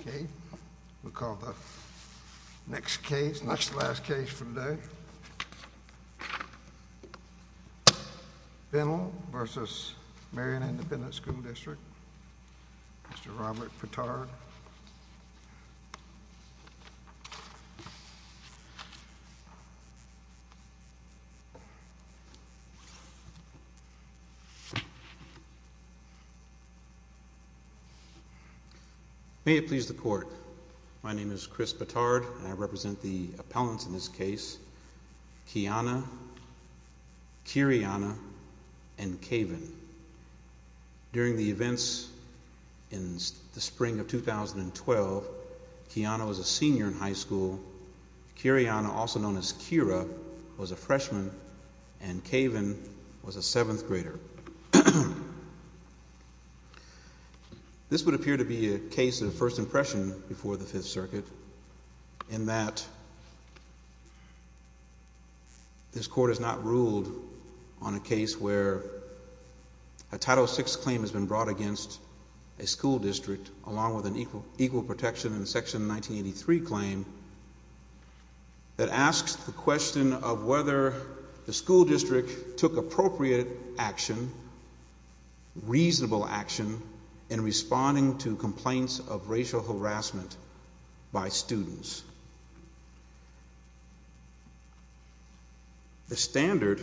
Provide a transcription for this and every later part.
Okay, we'll call the next case. And that's the last case for today. Fennell v. Marion Independent School District. Mr. Robert Pitard. May it please the court, my name is Chris Pitard and I represent the appellants in this case, Kiana, Kiriana, and Kaven. During the events in the spring of 2012, Kiana was a senior in high school, Kiriana, also known as Kira, was a freshman, and Kaven was a 7th grader. This would appear to be a case of first impression before the 5th Circuit in that this court has not ruled on a case where a Title VI claim has been brought against a school district along with an equal protection in Section 1983 claim that asks the question of whether the school district took appropriate action, reasonable action, in responding to complaints of racial harassment by students. The standard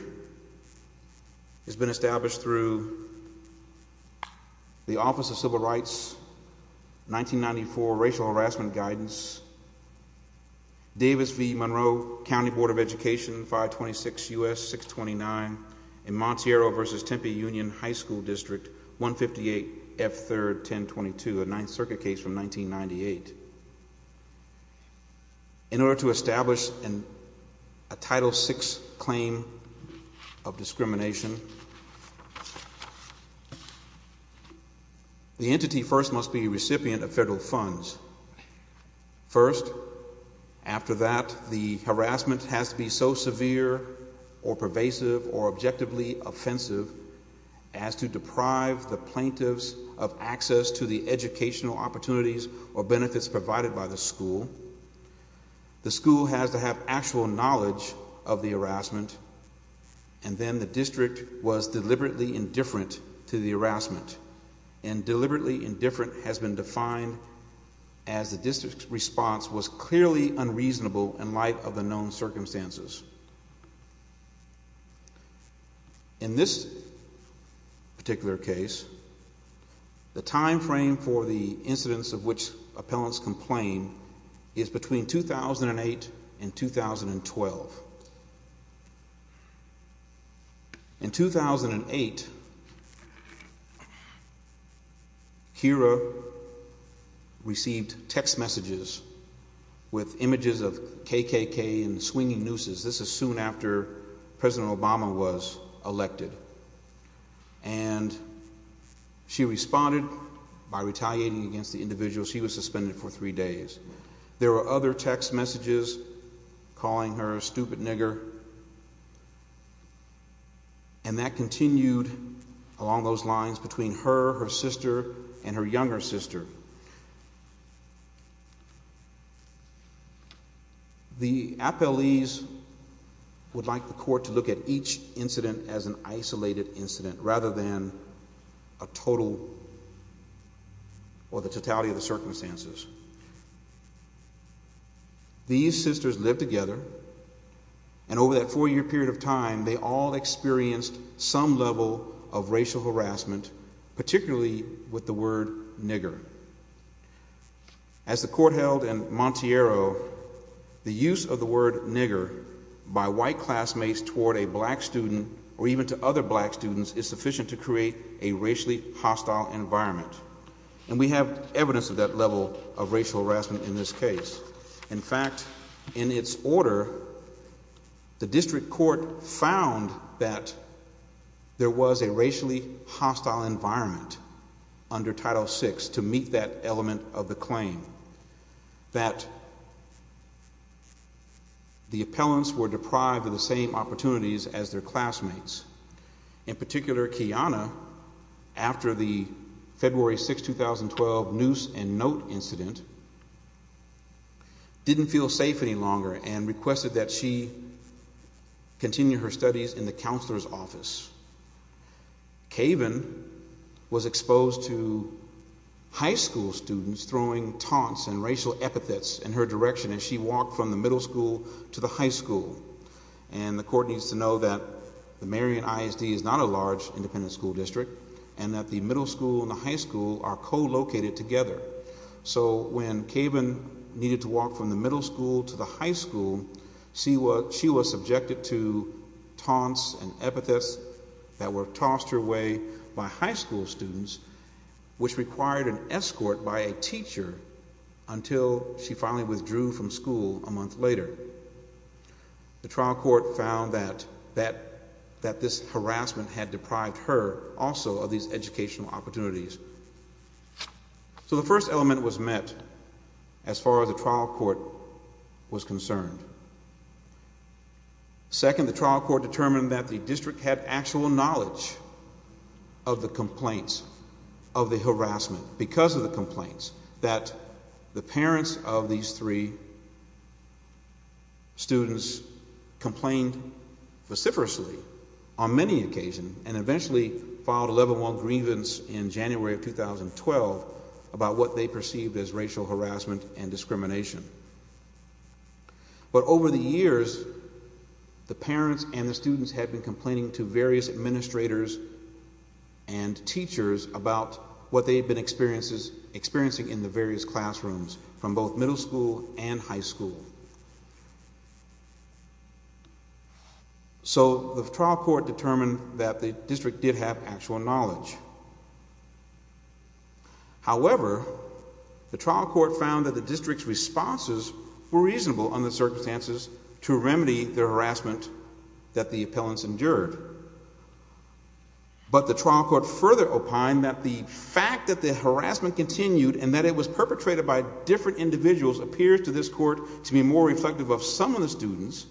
has been established through the Office of Civil Rights, 1994 Racial Harassment Guidance, Davis v. Monroe County Board of Education, 526 U.S. 629, and Montiero v. Tempe Union High School District, 158 F. 3rd 1022, a 9th Circuit case from 1998. In order to establish a Title VI claim of discrimination, the entity first must be a recipient of federal funds. First, after that, the harassment has to be so severe or pervasive or objectively offensive as to deprive the plaintiffs of access to the educational opportunities or benefits provided by the school. The school has to have actual knowledge of the harassment, and then the district was deliberately indifferent to the harassment, and deliberately indifferent has been defined as the district's response was clearly unreasonable in light of the known circumstances. In this particular case, the time frame for the incidents of which appellants complained is between 2008 and 2012. In 2008, Kira received text messages with images of KKK and swinging nooses. This is soon after President Obama was elected, and she responded by retaliating against the individual. She was suspended for three days. There were other text messages calling her a stupid nigger, and that continued along those lines between her, her sister, and her younger sister. The appellees would like the court to look at each incident as an isolated incident rather than a total or the totality of the circumstances. These sisters lived together, and over that four-year period of time, they all experienced some level of racial harassment, particularly with the word nigger. As the court held in Monteiro, the use of the word nigger by white classmates toward a black student or even to other black students is sufficient to create a racially hostile environment, and we have evidence of that level of racial harassment in this case. In fact, in its order, the district court found that there was a racially hostile environment under Title VI to meet that element of the claim, that the appellants were deprived of the same opportunities as their classmates. In particular, Kiana, after the February 6, 2012, Noose and Note incident, didn't feel safe any longer and requested that she continue her studies in the counselor's office. Kaven was exposed to high school students throwing taunts and racial epithets in her direction as she walked from the middle school to the high school, and the court needs to know that the Marion ISD is not a large independent school district and that the middle school and the high school are co-located together. So when Kaven needed to walk from the middle school to the high school, she was subjected to taunts and epithets that were tossed her way by high school students, which required an escort by a teacher until she finally withdrew from school a month later. The trial court found that this harassment had deprived her also of these educational opportunities. So the first element was met as far as the trial court was concerned. Second, the trial court determined that the district had actual knowledge of the complaints, of the harassment, because of the complaints, that the parents of these three students complained vociferously on many occasions and eventually filed 11-1 grievance in January of 2012 about what they perceived as racial harassment and discrimination. But over the years, the parents and the students had been complaining to various administrators and teachers about what they had been experiencing in the various classrooms from both middle school and high school. So the trial court determined that the district did have actual knowledge. However, the trial court found that the district's responses were reasonable under the circumstances to remedy the harassment that the appellants endured. But the trial court further opined that the fact that the harassment continued and that it was perpetrated by different individuals appears to this court to be more reflective of some of the students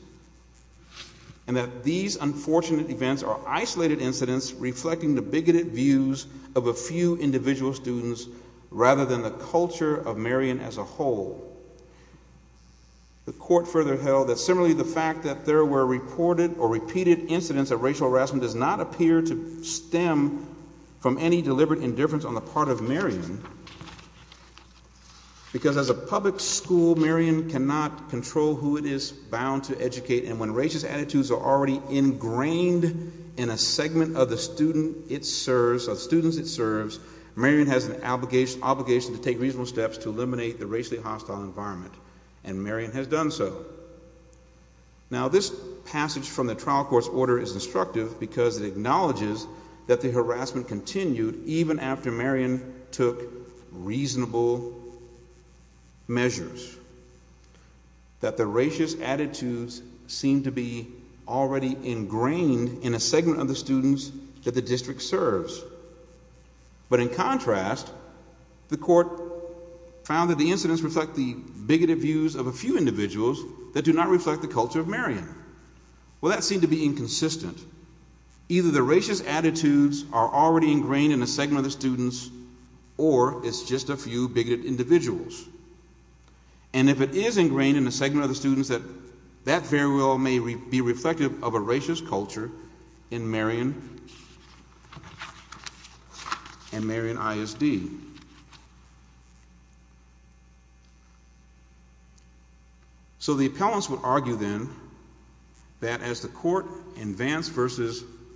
and that these unfortunate events are isolated incidents reflecting the bigoted views of a few individual students rather than the culture of Marion as a whole. The court further held that similarly the fact that there were reported or repeated incidents of racial harassment does not appear to stem from any deliberate indifference on the part of Marion. Because as a public school, Marion cannot control who it is bound to educate and when racist attitudes are already ingrained in a segment of the students it serves, Marion has an obligation to take reasonable steps to eliminate the racially hostile environment and Marion has done so. Now this passage from the trial court's order is instructive because it acknowledges that the harassment continued even after Marion took reasonable measures. That the racist attitudes seem to be already ingrained in a segment of the students that the district serves. But in contrast, the court found that the incidents reflect the bigoted views of a few individuals that do not reflect the culture of Marion. Well that seemed to be inconsistent. Either the racist attitudes are already ingrained in a segment of the students or it's just a few bigoted individuals. And if it is ingrained in a segment of the students, that very well may be reflective of a racist culture in Marion and Marion ISD. So the appellants would argue then that as the court in Vance v.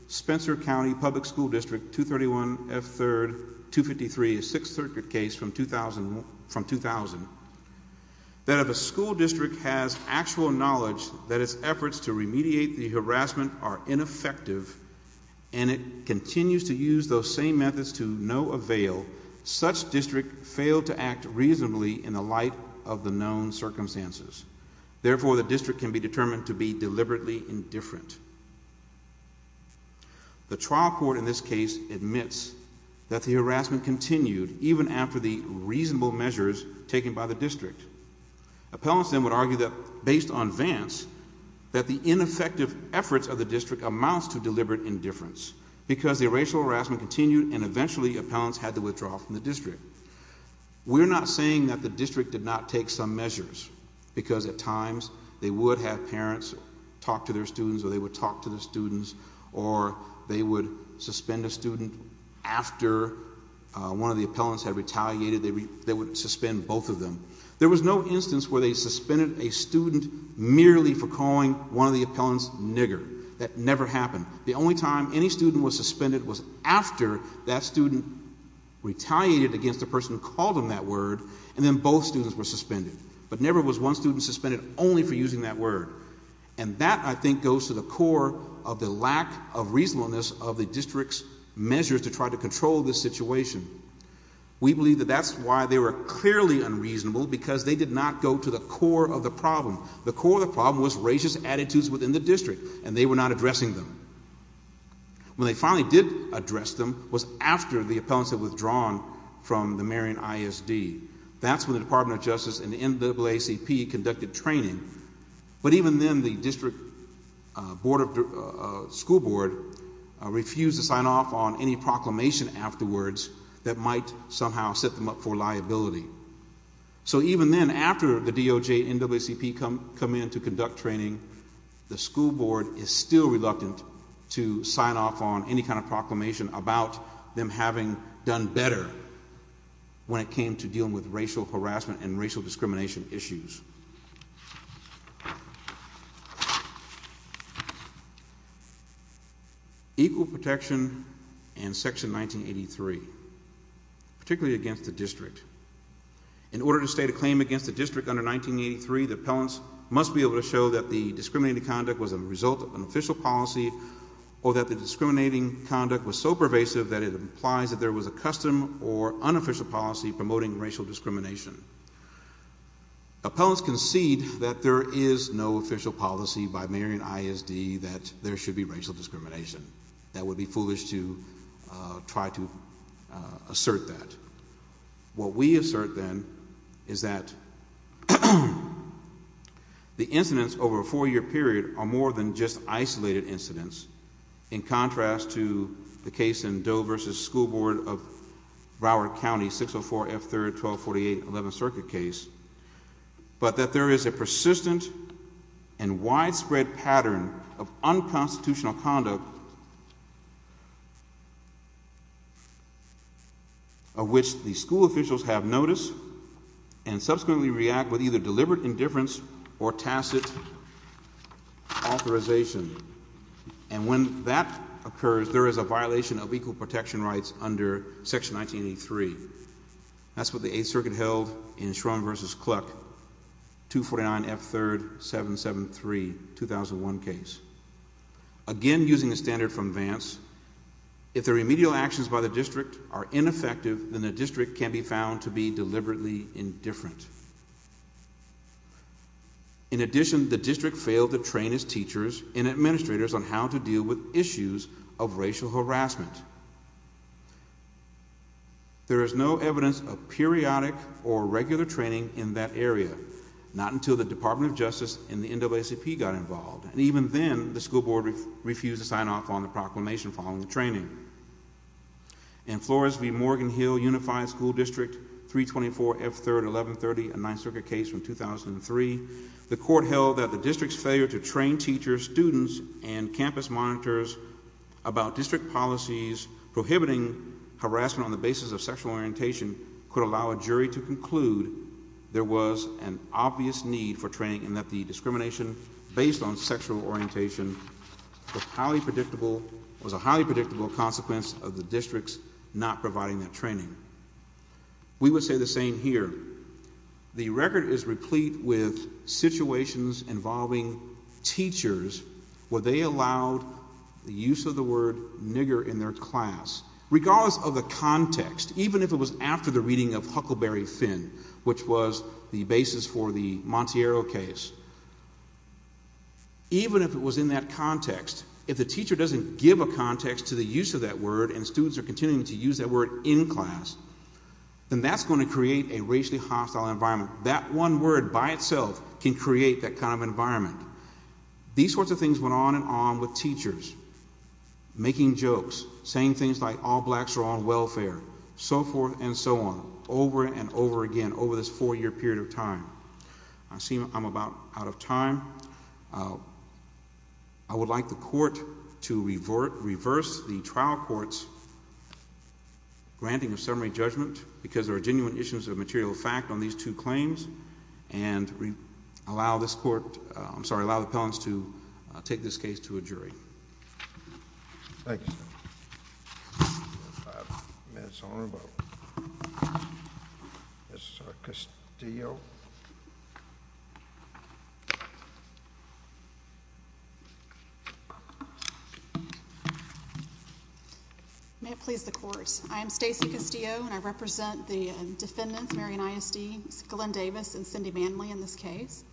Spencer County Public School District 231F3-253, a Sixth Circuit case from 2000, that if a school district has actual knowledge that its efforts to remediate the harassment are ineffective and it continues to use those same methods to no avail, such district failed to act reasonably in the light of the known circumstances. Therefore, the district can be determined to be deliberately indifferent. The trial court in this case admits that the harassment continued even after the reasonable measures taken by the district. Appellants then would argue that based on Vance, that the ineffective efforts of the district amounts to deliberate indifference. Because the racial harassment continued and eventually appellants had to withdraw from the district. We're not saying that the district did not take some measures because at times they would have parents talk to their students or they would talk to their students or they would suspend a student after one of the appellants had retaliated. They would suspend both of them. There was no instance where they suspended a student merely for calling one of the appellants nigger. That never happened. The only time any student was suspended was after that student retaliated against the person who called him that word and then both students were suspended. But never was one student suspended only for using that word. And that I think goes to the core of the lack of reasonableness of the district's measures to try to control this situation. We believe that that's why they were clearly unreasonable because they did not go to the core of the problem. The core of the problem was racist attitudes within the district and they were not addressing them. When they finally did address them was after the appellants had withdrawn from the Marion ISD. That's when the Department of Justice and the NAACP conducted training. But even then the district school board refused to sign off on any proclamation afterwards that might somehow set them up for liability. So even then after the DOJ and NAACP come in to conduct training, the school board is still reluctant to sign off on any kind of proclamation about them having done better when it came to dealing with racial harassment and racial discrimination issues. Equal Protection and Section 1983. Particularly against the district. In order to state a claim against the district under 1983, the appellants must be able to show that the discriminating conduct was a result of an official policy or that the discriminating conduct was so pervasive that it implies that there was a custom or unofficial policy promoting racial discrimination. Appellants concede that there is no official policy by Marion ISD that there should be racial discrimination. That it would be foolish to try to assert that. What we assert then is that the incidents over a four year period are more than just isolated incidents. In contrast to the case in Doe v. School Board of Broward County, 604 F. 3rd, 1248 11th Circuit case. But that there is a persistent and widespread pattern of unconstitutional conduct of which the school officials have noticed and subsequently react with either deliberate indifference or tacit authorization. And when that occurs, there is a violation of equal protection rights under Section 1983. That's what the 8th Circuit held in Schrum v. Kluck, 249 F. 3rd, 773, 2001 case. Again, using a standard from Vance, if the remedial actions by the district are ineffective, then the district can be found to be deliberately indifferent. In addition, the district failed to train its teachers and administrators on how to deal with issues of racial harassment. There is no evidence of periodic or regular training in that area, not until the Department of Justice and the NAACP got involved. And even then, the school board refused to sign off on the proclamation following the training. In Flores v. Morgan Hill Unified School District, 324 F. 3rd, 1130, a 9th Circuit case from 2003, the court held that the district's failure to train teachers, students, and campus monitors about district policies prohibiting harassment on the basis of sexual orientation could allow a jury to conclude there was an obvious need for training and that the discrimination based on sexual orientation was a highly predictable consequence of the districts not providing that training. We would say the same here. The record is replete with situations involving teachers where they allowed the use of the word nigger in their class. Regardless of the context, even if it was after the reading of Huckleberry Finn, which was the basis for the Monteiro case, even if it was in that context, if the teacher doesn't give a context to the use of that word and students are continuing to use that word in class, then that's going to create a racially hostile environment. That one word by itself can create that kind of environment. These sorts of things went on and on with teachers, making jokes, saying things like all blacks are on welfare, so forth and so on, over and over again, over this four year period of time. I see I'm about out of time. I would like the court to reverse the trial court's granting of summary judgment because there are genuine issues of material fact on these two claims and allow the appellants to take this case to a jury. Thank you, sir. May it please the court. I am Stacey Castillo and I represent the defendants, Marion Isd, Glenn Davis and Cindy Manley, in this case.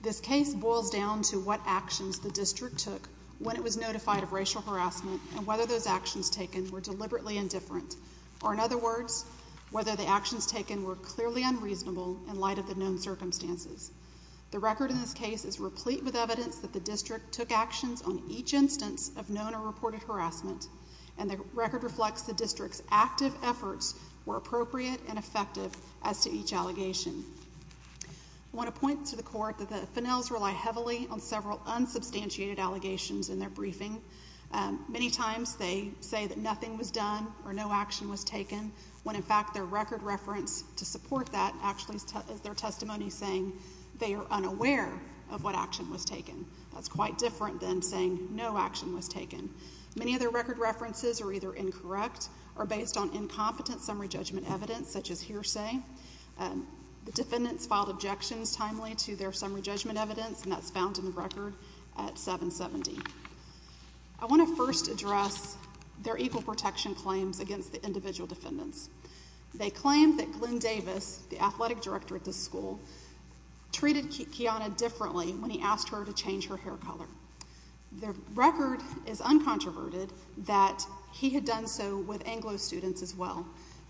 This case boils down to what actions the district took when it was notified of racial harassment and whether those actions taken were deliberately indifferent, or in other words, whether the actions taken were clearly unreasonable in light of the known circumstances. The record in this case is replete with evidence that the district took actions on each instance of known or reported harassment, and the record reflects the district's active efforts were appropriate and effective as to each allegation. I want to point to the court that the Finnells rely heavily on several unsubstantiated allegations in their briefing. Many times they say that nothing was done or no action was taken, when in fact their record reference to support that actually is their testimony saying they are unaware of what action was taken. That's quite different than saying no action was taken. Many of their record references are either incorrect or based on incompetent summary judgment evidence, such as hearsay. The defendants filed objections timely to their summary judgment evidence, and that's found in the record at 770. I want to first address their equal protection claims against the individual defendants. They claim that Glenn Davis, the athletic director at this school, treated Kiana differently when he asked her to change her hair color. The record is uncontroverted that he had done so with Anglo students as well.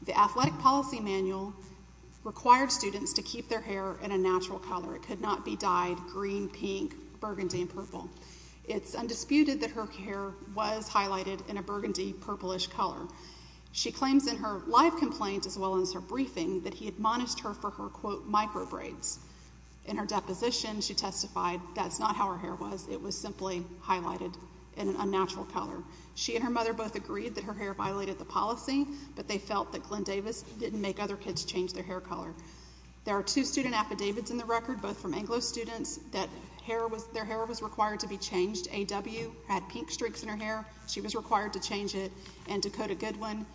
The athletic policy manual required students to keep their hair in a natural color. It could not be dyed green, pink, burgundy, and purple. It's undisputed that her hair was highlighted in a burgundy, purplish color. She claims in her live complaint as well as her briefing that he admonished her for her, quote, micro braids. In her deposition, she testified that's not how her hair was. It was simply highlighted in an unnatural color. She and her mother both agreed that her hair violated the policy, but they felt that Glenn Davis didn't make other kids change their hair color. There are two student affidavits in the record, both from Anglo students, that their hair was required to be changed. AW had pink streaks in her hair. She was required to change it. And Dakota Goodwin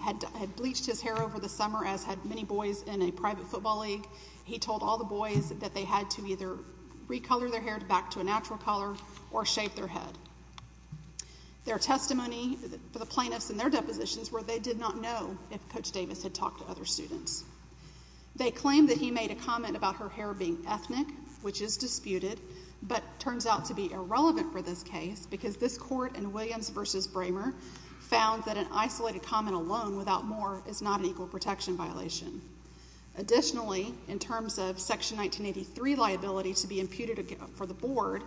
had bleached his hair over the summer, as had many boys in a private football league. He told all the boys that they had to either recolor their hair back to a natural color or shave their head. There are testimony for the plaintiffs in their depositions where they did not know if Coach Davis had talked to other students. They claim that he made a comment about her hair being ethnic, which is disputed, but turns out to be irrelevant for this case because this court in Williams v. Bramer found that an isolated comment alone without more is not an equal protection violation. Additionally, in terms of Section 1983 liability to be imputed for the board,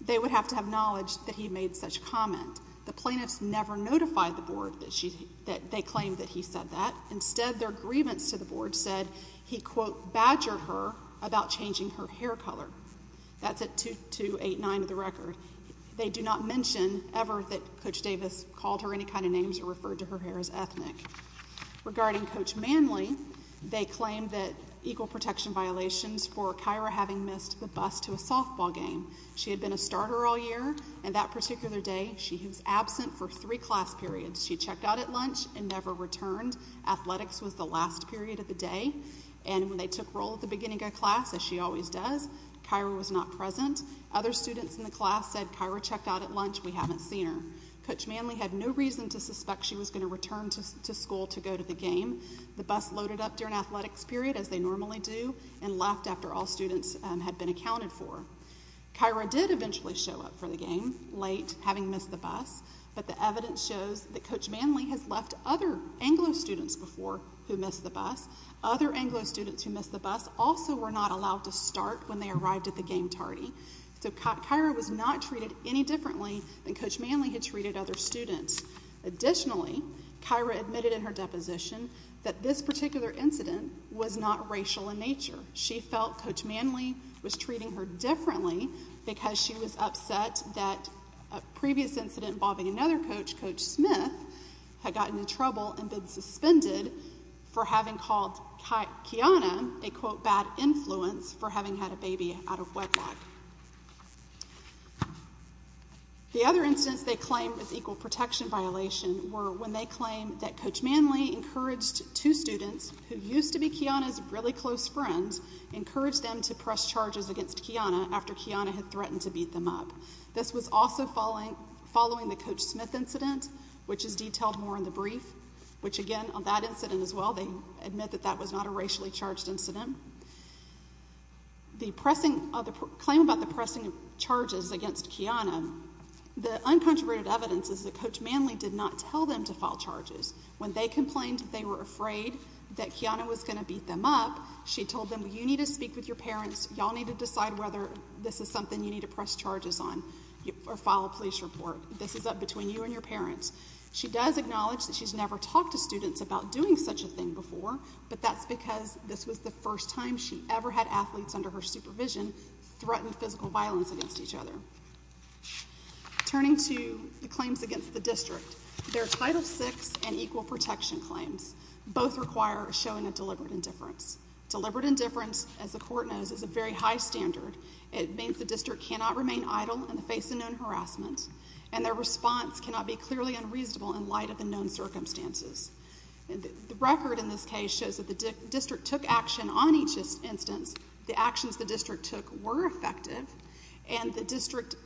they would have to have knowledge that he made such comment. The plaintiffs never notified the board that they claimed that he said that. Instead, their grievance to the board said he, quote, badgered her about changing her hair color. That's at 2289 of the record. They do not mention ever that Coach Davis called her any kind of names or referred to her hair as ethnic. Regarding Coach Manley, they claim that equal protection violations for Kyra having missed the bus to a softball game She had been a starter all year. And that particular day, she was absent for three class periods. She checked out at lunch and never returned. Athletics was the last period of the day. And when they took roll at the beginning of class, as she always does, Kyra was not present. Other students in the class said Kyra checked out at lunch. We haven't seen her. Coach Manley had no reason to suspect she was going to return to school to go to the game. The bus loaded up during athletics period, as they normally do, and left after all students had been accounted for. Kyra did eventually show up for the game, late, having missed the bus. But the evidence shows that Coach Manley has left other Anglo students before who missed the bus. Other Anglo students who missed the bus also were not allowed to start when they arrived at the game tardy. So Kyra was not treated any differently than Coach Manley had treated other students. Additionally, Kyra admitted in her deposition that this particular incident was not racial in nature. She felt Coach Manley was treating her differently because she was upset that a previous incident involving another coach, Coach Smith, had gotten in trouble and been suspended for having called Kiana a, quote, bad influence for having had a baby out of wedlock. The other instance they claimed was equal protection violation were when they claimed that Coach Manley encouraged two students, who used to be Kiana's really close friends, encouraged them to press charges against Kiana after Kiana had threatened to beat them up. This was also following the Coach Smith incident, which is detailed more in the brief, which again, on that incident as well, they admit that that was not a racially charged incident. The claim about the pressing of charges against Kiana, the uncontroverted evidence is that Coach Manley did not tell them to file charges. When they complained they were afraid that Kiana was going to beat them up, she told them you need to speak with your parents, y'all need to decide whether this is something you need to press charges on or file a police report. This is up between you and your parents. She does acknowledge that she's never talked to students about doing such a thing before, but that's because this was the first time she ever had athletes under her supervision threaten physical violence against each other. Turning to the claims against the district, their Title VI and Equal Protection claims both require showing a deliberate indifference. Deliberate indifference, as the court knows, is a very high standard. It means the district cannot remain idle in the face of known harassment, and their response cannot be clearly unreasonable in light of the known circumstances. The record in this case shows that the district took action on each instance. The actions the district took were effective, and the district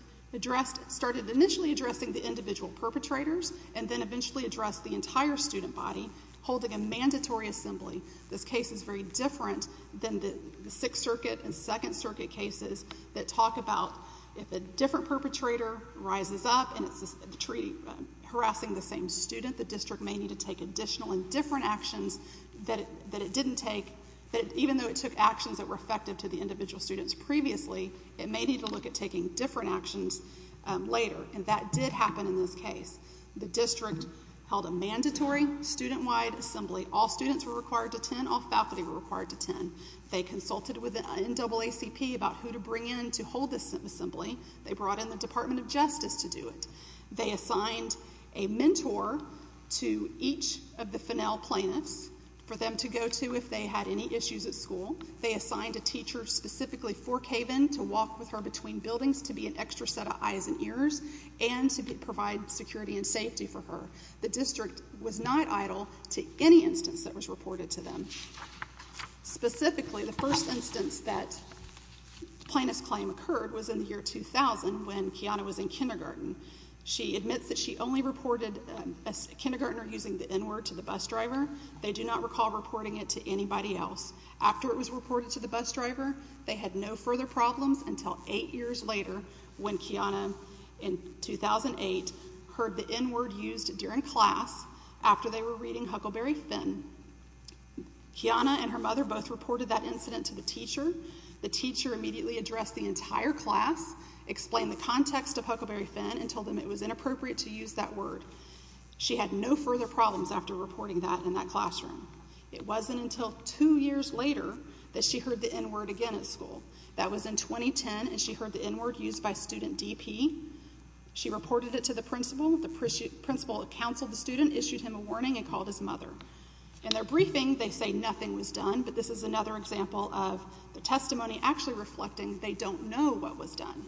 started initially addressing the individual perpetrators and then eventually addressed the entire student body holding a mandatory assembly. This case is very different than the Sixth Circuit and Second Circuit cases that talk about if a different perpetrator rises up and is harassing the same student, the district may need to take additional and different actions that it didn't take, that even though it took actions that were effective to the individual students previously, it may need to look at taking different actions later, and that did happen in this case. The district held a mandatory student-wide assembly. All students were required to attend. All faculty were required to attend. They consulted with the NAACP about who to bring in to hold this assembly. They brought in the Department of Justice to do it. They assigned a mentor to each of the Fennell plaintiffs for them to go to if they had any issues at school. They assigned a teacher specifically for Caven to walk with her between buildings to be an extra set of eyes and ears and to provide security and safety for her. The district was not idle to any instance that was reported to them. Specifically, the first instance that plaintiff's claim occurred was in the year 2000 when Kiana was in kindergarten. She admits that she only reported a kindergartner using the N-word to the bus driver. They do not recall reporting it to anybody else. After it was reported to the bus driver, they had no further problems until eight years later when Kiana, in 2008, heard the N-word used during class after they were reading Huckleberry Finn. Kiana and her mother both reported that incident to the teacher. The teacher immediately addressed the entire class, explained the context of Huckleberry Finn, and told them it was inappropriate to use that word. She had no further problems after reporting that in that classroom. It wasn't until two years later that she heard the N-word again at school. That was in 2010, and she heard the N-word used by student DP. She reported it to the principal. The principal counseled the student, issued him a warning, and called his mother. In their briefing, they say nothing was done, but this is another example of the testimony actually reflecting they don't know what was done.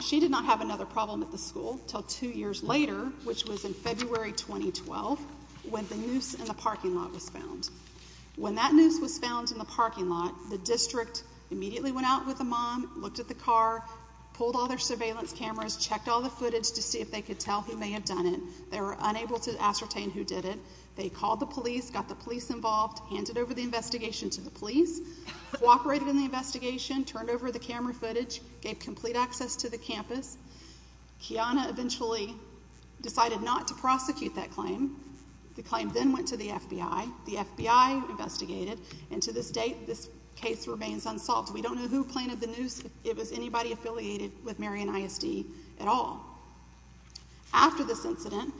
She did not have another problem at the school until two years later, which was in February 2012, when the noose in the parking lot was found. When that noose was found in the parking lot, the district immediately went out with the mom, looked at the car, pulled all their surveillance cameras, checked all the footage to see if they could tell who may have done it. They were unable to ascertain who did it. They called the police, got the police involved, handed over the investigation to the police, cooperated in the investigation, turned over the camera footage, gave complete access to the campus. Kiana eventually decided not to prosecute that claim. The claim then went to the FBI. The FBI investigated, and to this date, this case remains unsolved. We don't know who planted the noose. It was anybody affiliated with Marion ISD at all. After this incident,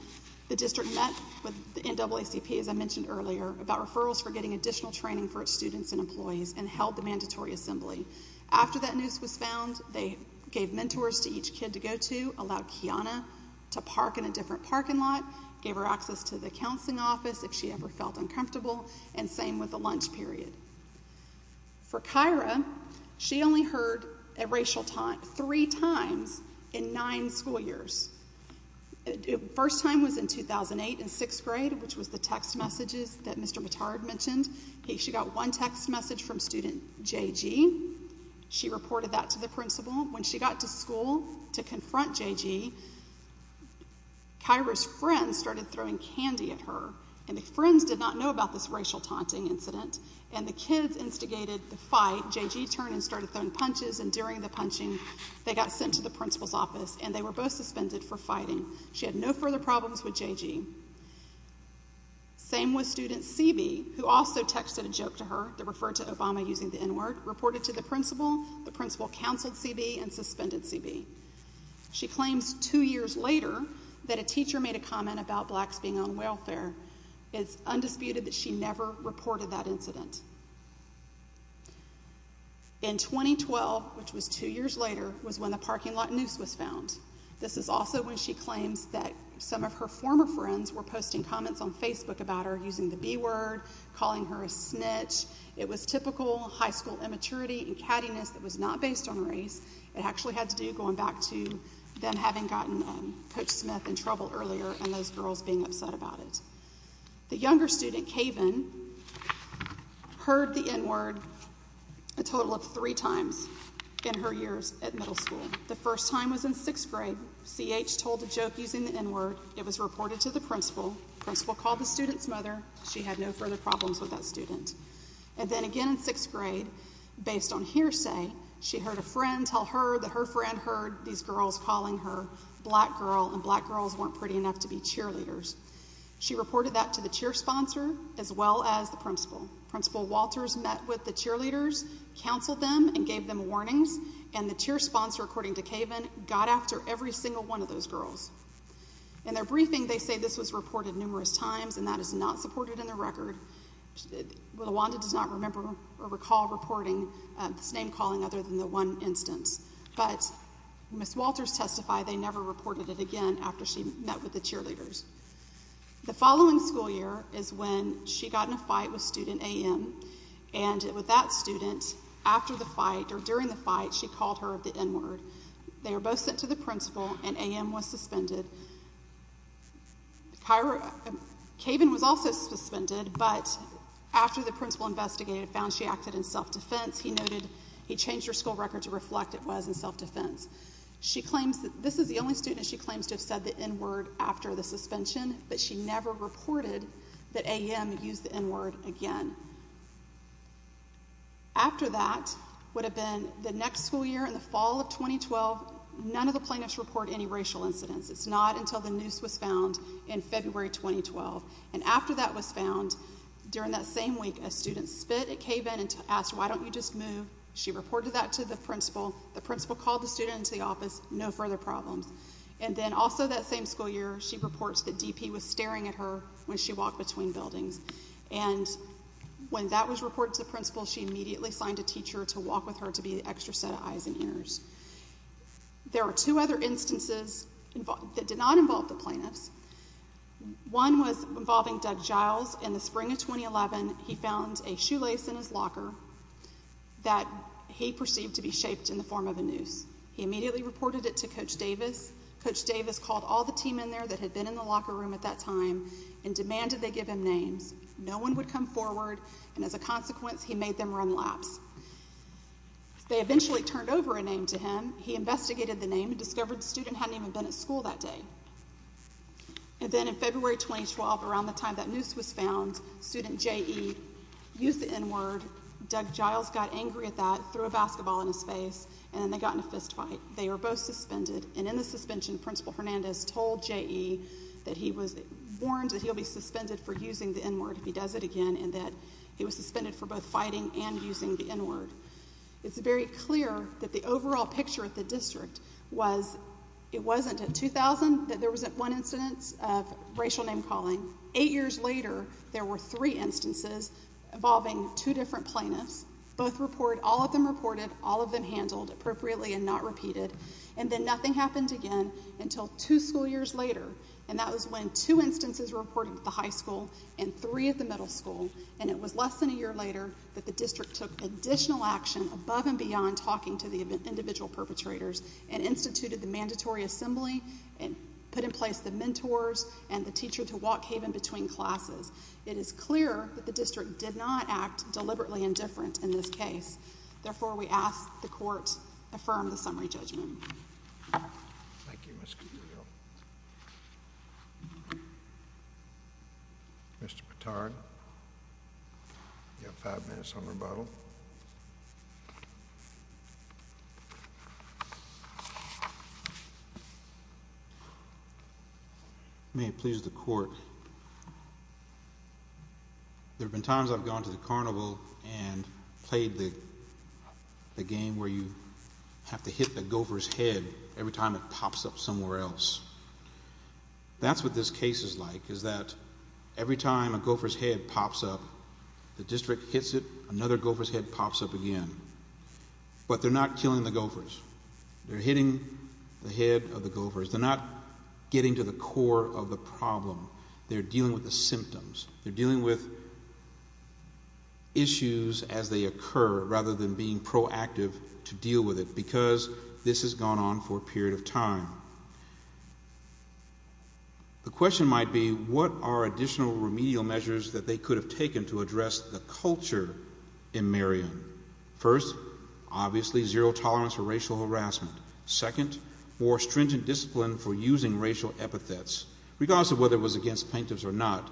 the district met with the NAACP, as I mentioned earlier, about referrals for getting additional training for its students and employees, and held the mandatory assembly. After that noose was found, they gave mentors to each kid to go to, allowed Kiana to park in a different parking lot, gave her access to the counseling office if she ever felt uncomfortable, and same with the lunch period. For Kyra, she only heard a racial taunt three times in nine school years. The first time was in 2008 in sixth grade, which was the text messages that Mr. Mattard mentioned. She got one text message from student JG. She reported that to the principal. When she got to school to confront JG, Kyra's friends started throwing candy at her, and the friends did not know about this racial taunting incident, so when the kids instigated the fight, JG turned and started throwing punches, and during the punching, they got sent to the principal's office, and they were both suspended for fighting. She had no further problems with JG. Same with student CB, who also texted a joke to her that referred to Obama using the N-word, reported to the principal. The principal counseled CB and suspended CB. She claims two years later that a teacher made a comment about blacks being on welfare. It's undisputed that she never reported that incident. In 2012, which was two years later, was when the parking lot noose was found. This is also when she claims that some of her former friends were posting comments on Facebook about her using the B-word, calling her a snitch. It was typical high school immaturity and cattiness that was not based on race. It actually had to do, going back to them having gotten Coach Smith in trouble earlier and those girls being upset about it. The younger student, Kaven, heard the N-word a total of three times in her years at middle school. The first time was in sixth grade. CH told a joke using the N-word. It was reported to the principal. The principal called the student's mother. She had no further problems with that student. And then again in sixth grade, based on hearsay, she heard a friend tell her that her friend heard these girls calling her black girl, and black girls weren't pretty enough to be cheerleaders. She reported that to the cheer sponsor as well as the principal. Principal Walters met with the cheerleaders, counseled them, and gave them warnings. And the cheer sponsor, according to Kaven, got after every single one of those girls. In their briefing, they say this was reported numerous times and that is not supported in the record. Wanda does not remember or recall reporting this name calling other than the one instance. But Ms. Walters testified they never reported it again after she met with the cheerleaders. The following school year is when she got in a fight with student A.M. And with that student, after the fight, or during the fight, she called her the N-word. They were both sent to the principal and A.M. was suspended. Kaven was also suspended, but after the principal investigated and found she acted in self-defense, he noted he changed her school record to reflect it was in self-defense. This is the only student she claims to have said the N-word after the suspension, but she never reported that A.M. used the N-word again. After that would have been the next school year in the fall of 2012, none of the plaintiffs report any racial incidents. It's not until the noose was found in February 2012. And after that was found, during that same week, a student spit at Kaven and asked, why don't you just move? She reported that to the principal. The principal called the student into the office. No further problems. And then also that same school year, she reports that D.P. was staring at her when she walked between buildings. And when that was reported to the principal, she immediately signed a teacher to walk with her to be the extra set of eyes and ears. There are two other instances that did not involve the plaintiffs. One was involving Doug Giles. In the spring of 2011, he found a shoelace in his locker. That he perceived to be shaped in the form of a noose. He immediately reported it to Coach Davis. Coach Davis called all the team in there that had been in the locker room at that time and demanded they give him names. No one would come forward, and as a consequence, he made them run laps. They eventually turned over a name to him. He investigated the name and discovered the student hadn't even been at school that day. And then in February 2012, around the time that noose was found, student J.E. used the N-word. Doug Giles got angry at that, threw a basketball in his face, and then they got in a fist fight. They were both suspended. And in the suspension, Principal Hernandez told J.E. that he was warned that he'll be suspended for using the N-word if he does it again, and that he was suspended for both fighting and using the N-word. It's very clear that the overall picture at the district was, it wasn't until 2000 that there was one incidence of racial name-calling. Eight years later, there were three instances involving two different plaintiffs. Both reported, all of them reported, all of them handled appropriately and not repeated. And then nothing happened again until two school years later, and that was when two instances were reported at the high school and three at the middle school, and it was less than a year later that the district took additional action above and beyond talking to the individual perpetrators and instituted the mandatory assembly and put in place the mentors and the teacher to walk Haven between classes. It is clear that the district did not act deliberately indifferent in this case. Therefore, we ask the Court affirm the summary judgment. Thank you, Ms. Gutierrez. Mr. Patard, you have five minutes on rebuttal. May it please the Court. There have been times I've gone to the carnival and played the game where you have to hit the gopher's head every time it pops up somewhere else. That's what this case is like, is that every time a gopher's head pops up, the district hits it, another gopher's head pops up again. But they're not killing the gophers. They're hitting the head of the gophers. They're not getting to the core of the problem. They're dealing with the symptoms. They're dealing with issues as they occur, rather than being proactive to deal with it, because this has gone on for a period of time. The question might be, what are additional remedial measures that they could have taken to address the culture in Marion? First, obviously, zero tolerance for racial harassment. Second, more stringent discipline for using racial epithets. Regardless of whether it was against plaintiffs or not,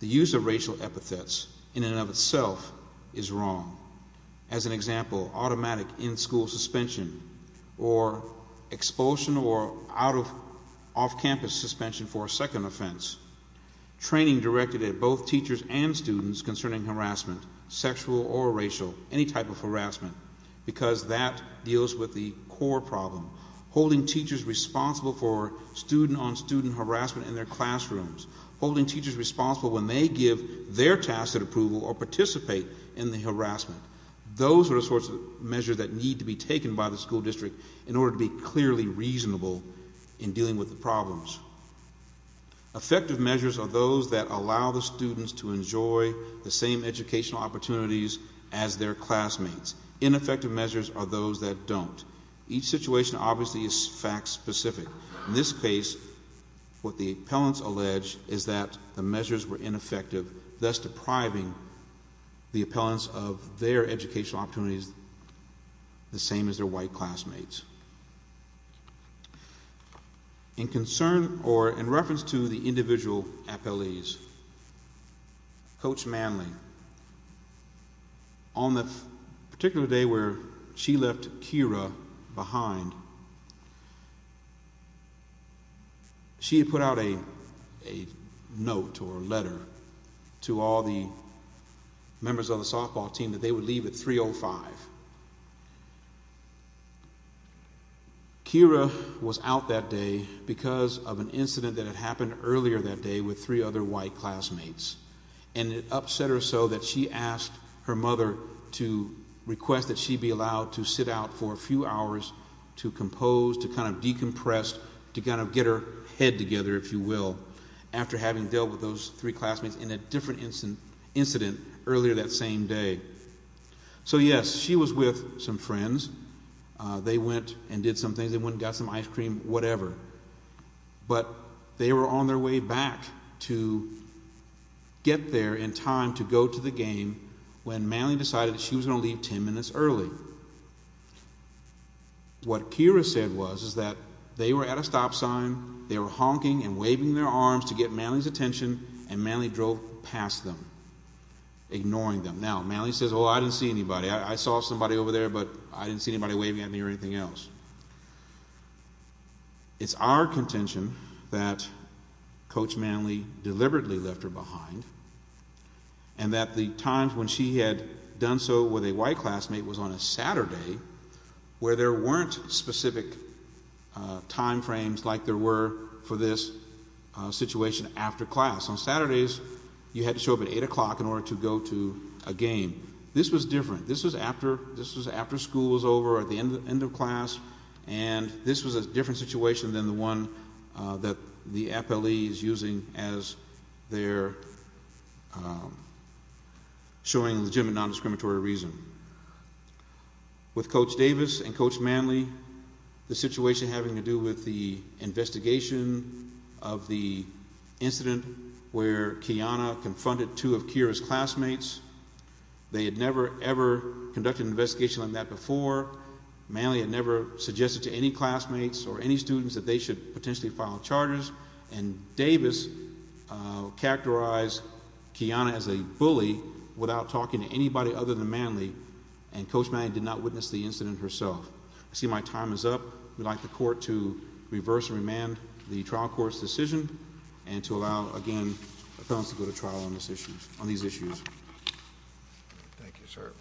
the use of racial epithets, in and of itself, is wrong. As an example, automatic in-school suspension, or expulsion or off-campus suspension for a second offense. Training directed at both teachers and students concerning harassment, sexual or racial, any type of harassment, because that deals with the core problem. Holding teachers responsible for student-on-student harassment in their classrooms. Holding teachers responsible when they give their tasks at approval or participate in the harassment. Those are the sorts of measures that need to be taken by the school district in order to be clearly reasonable in dealing with the problems. Effective measures are those that allow the students to enjoy the same educational opportunities as their classmates. Ineffective measures are those that don't. Each situation, obviously, is fact-specific. In this case, what the appellants allege is that the measures were ineffective, thus depriving the appellants of their educational opportunities the same as their white classmates. In reference to the individual appellees, Coach Manley, on the particular day where she left Keira behind, she had put out a note or a letter to all the members of the softball team that they would leave at 3.05. Keira was out that day because of an incident that had happened earlier that day with three other white classmates. And it upset her so that she asked her mother to request that she be allowed to sit out for a few hours to compose, to kind of decompress, to kind of get her head together, if you will, after having dealt with those three classmates in a different incident earlier that same day. So, yes, she was with some friends. They went and did some things. They went and got some ice cream, whatever. But they were on their way back to get there in time to go to the game when Manley decided that she was going to leave ten minutes early. What Keira said was that they were at a stop sign, they were honking and waving their arms to get Manley's attention, and Manley drove past them, ignoring them. Now, Manley says, oh, I didn't see anybody. I saw somebody over there, but I didn't see anybody waving at me or anything else. It's our contention that Coach Manley deliberately left her behind and that the times when she had done so with a white classmate was on a Saturday where there weren't specific time frames like there were for this situation after class. On Saturdays, you had to show up at 8 o'clock in order to go to a game. This was different. This was after school was over, at the end of class, and this was a different situation than the one that the FLE is using as they're showing legitimate nondiscriminatory reason. With Coach Davis and Coach Manley, the situation having to do with the investigation of the incident where Kiana confronted two of Keira's classmates, they had never, ever conducted an investigation like that before. Manley had never suggested to any classmates or any students that they should potentially file charges, and Davis characterized Kiana as a bully without talking to anybody other than Manley, and Coach Manley did not witness the incident herself. I see my time is up. I would like the court to reverse and remand the trial court's decision and to allow, again, the felons to go to trial on these issues. Thank you, sir.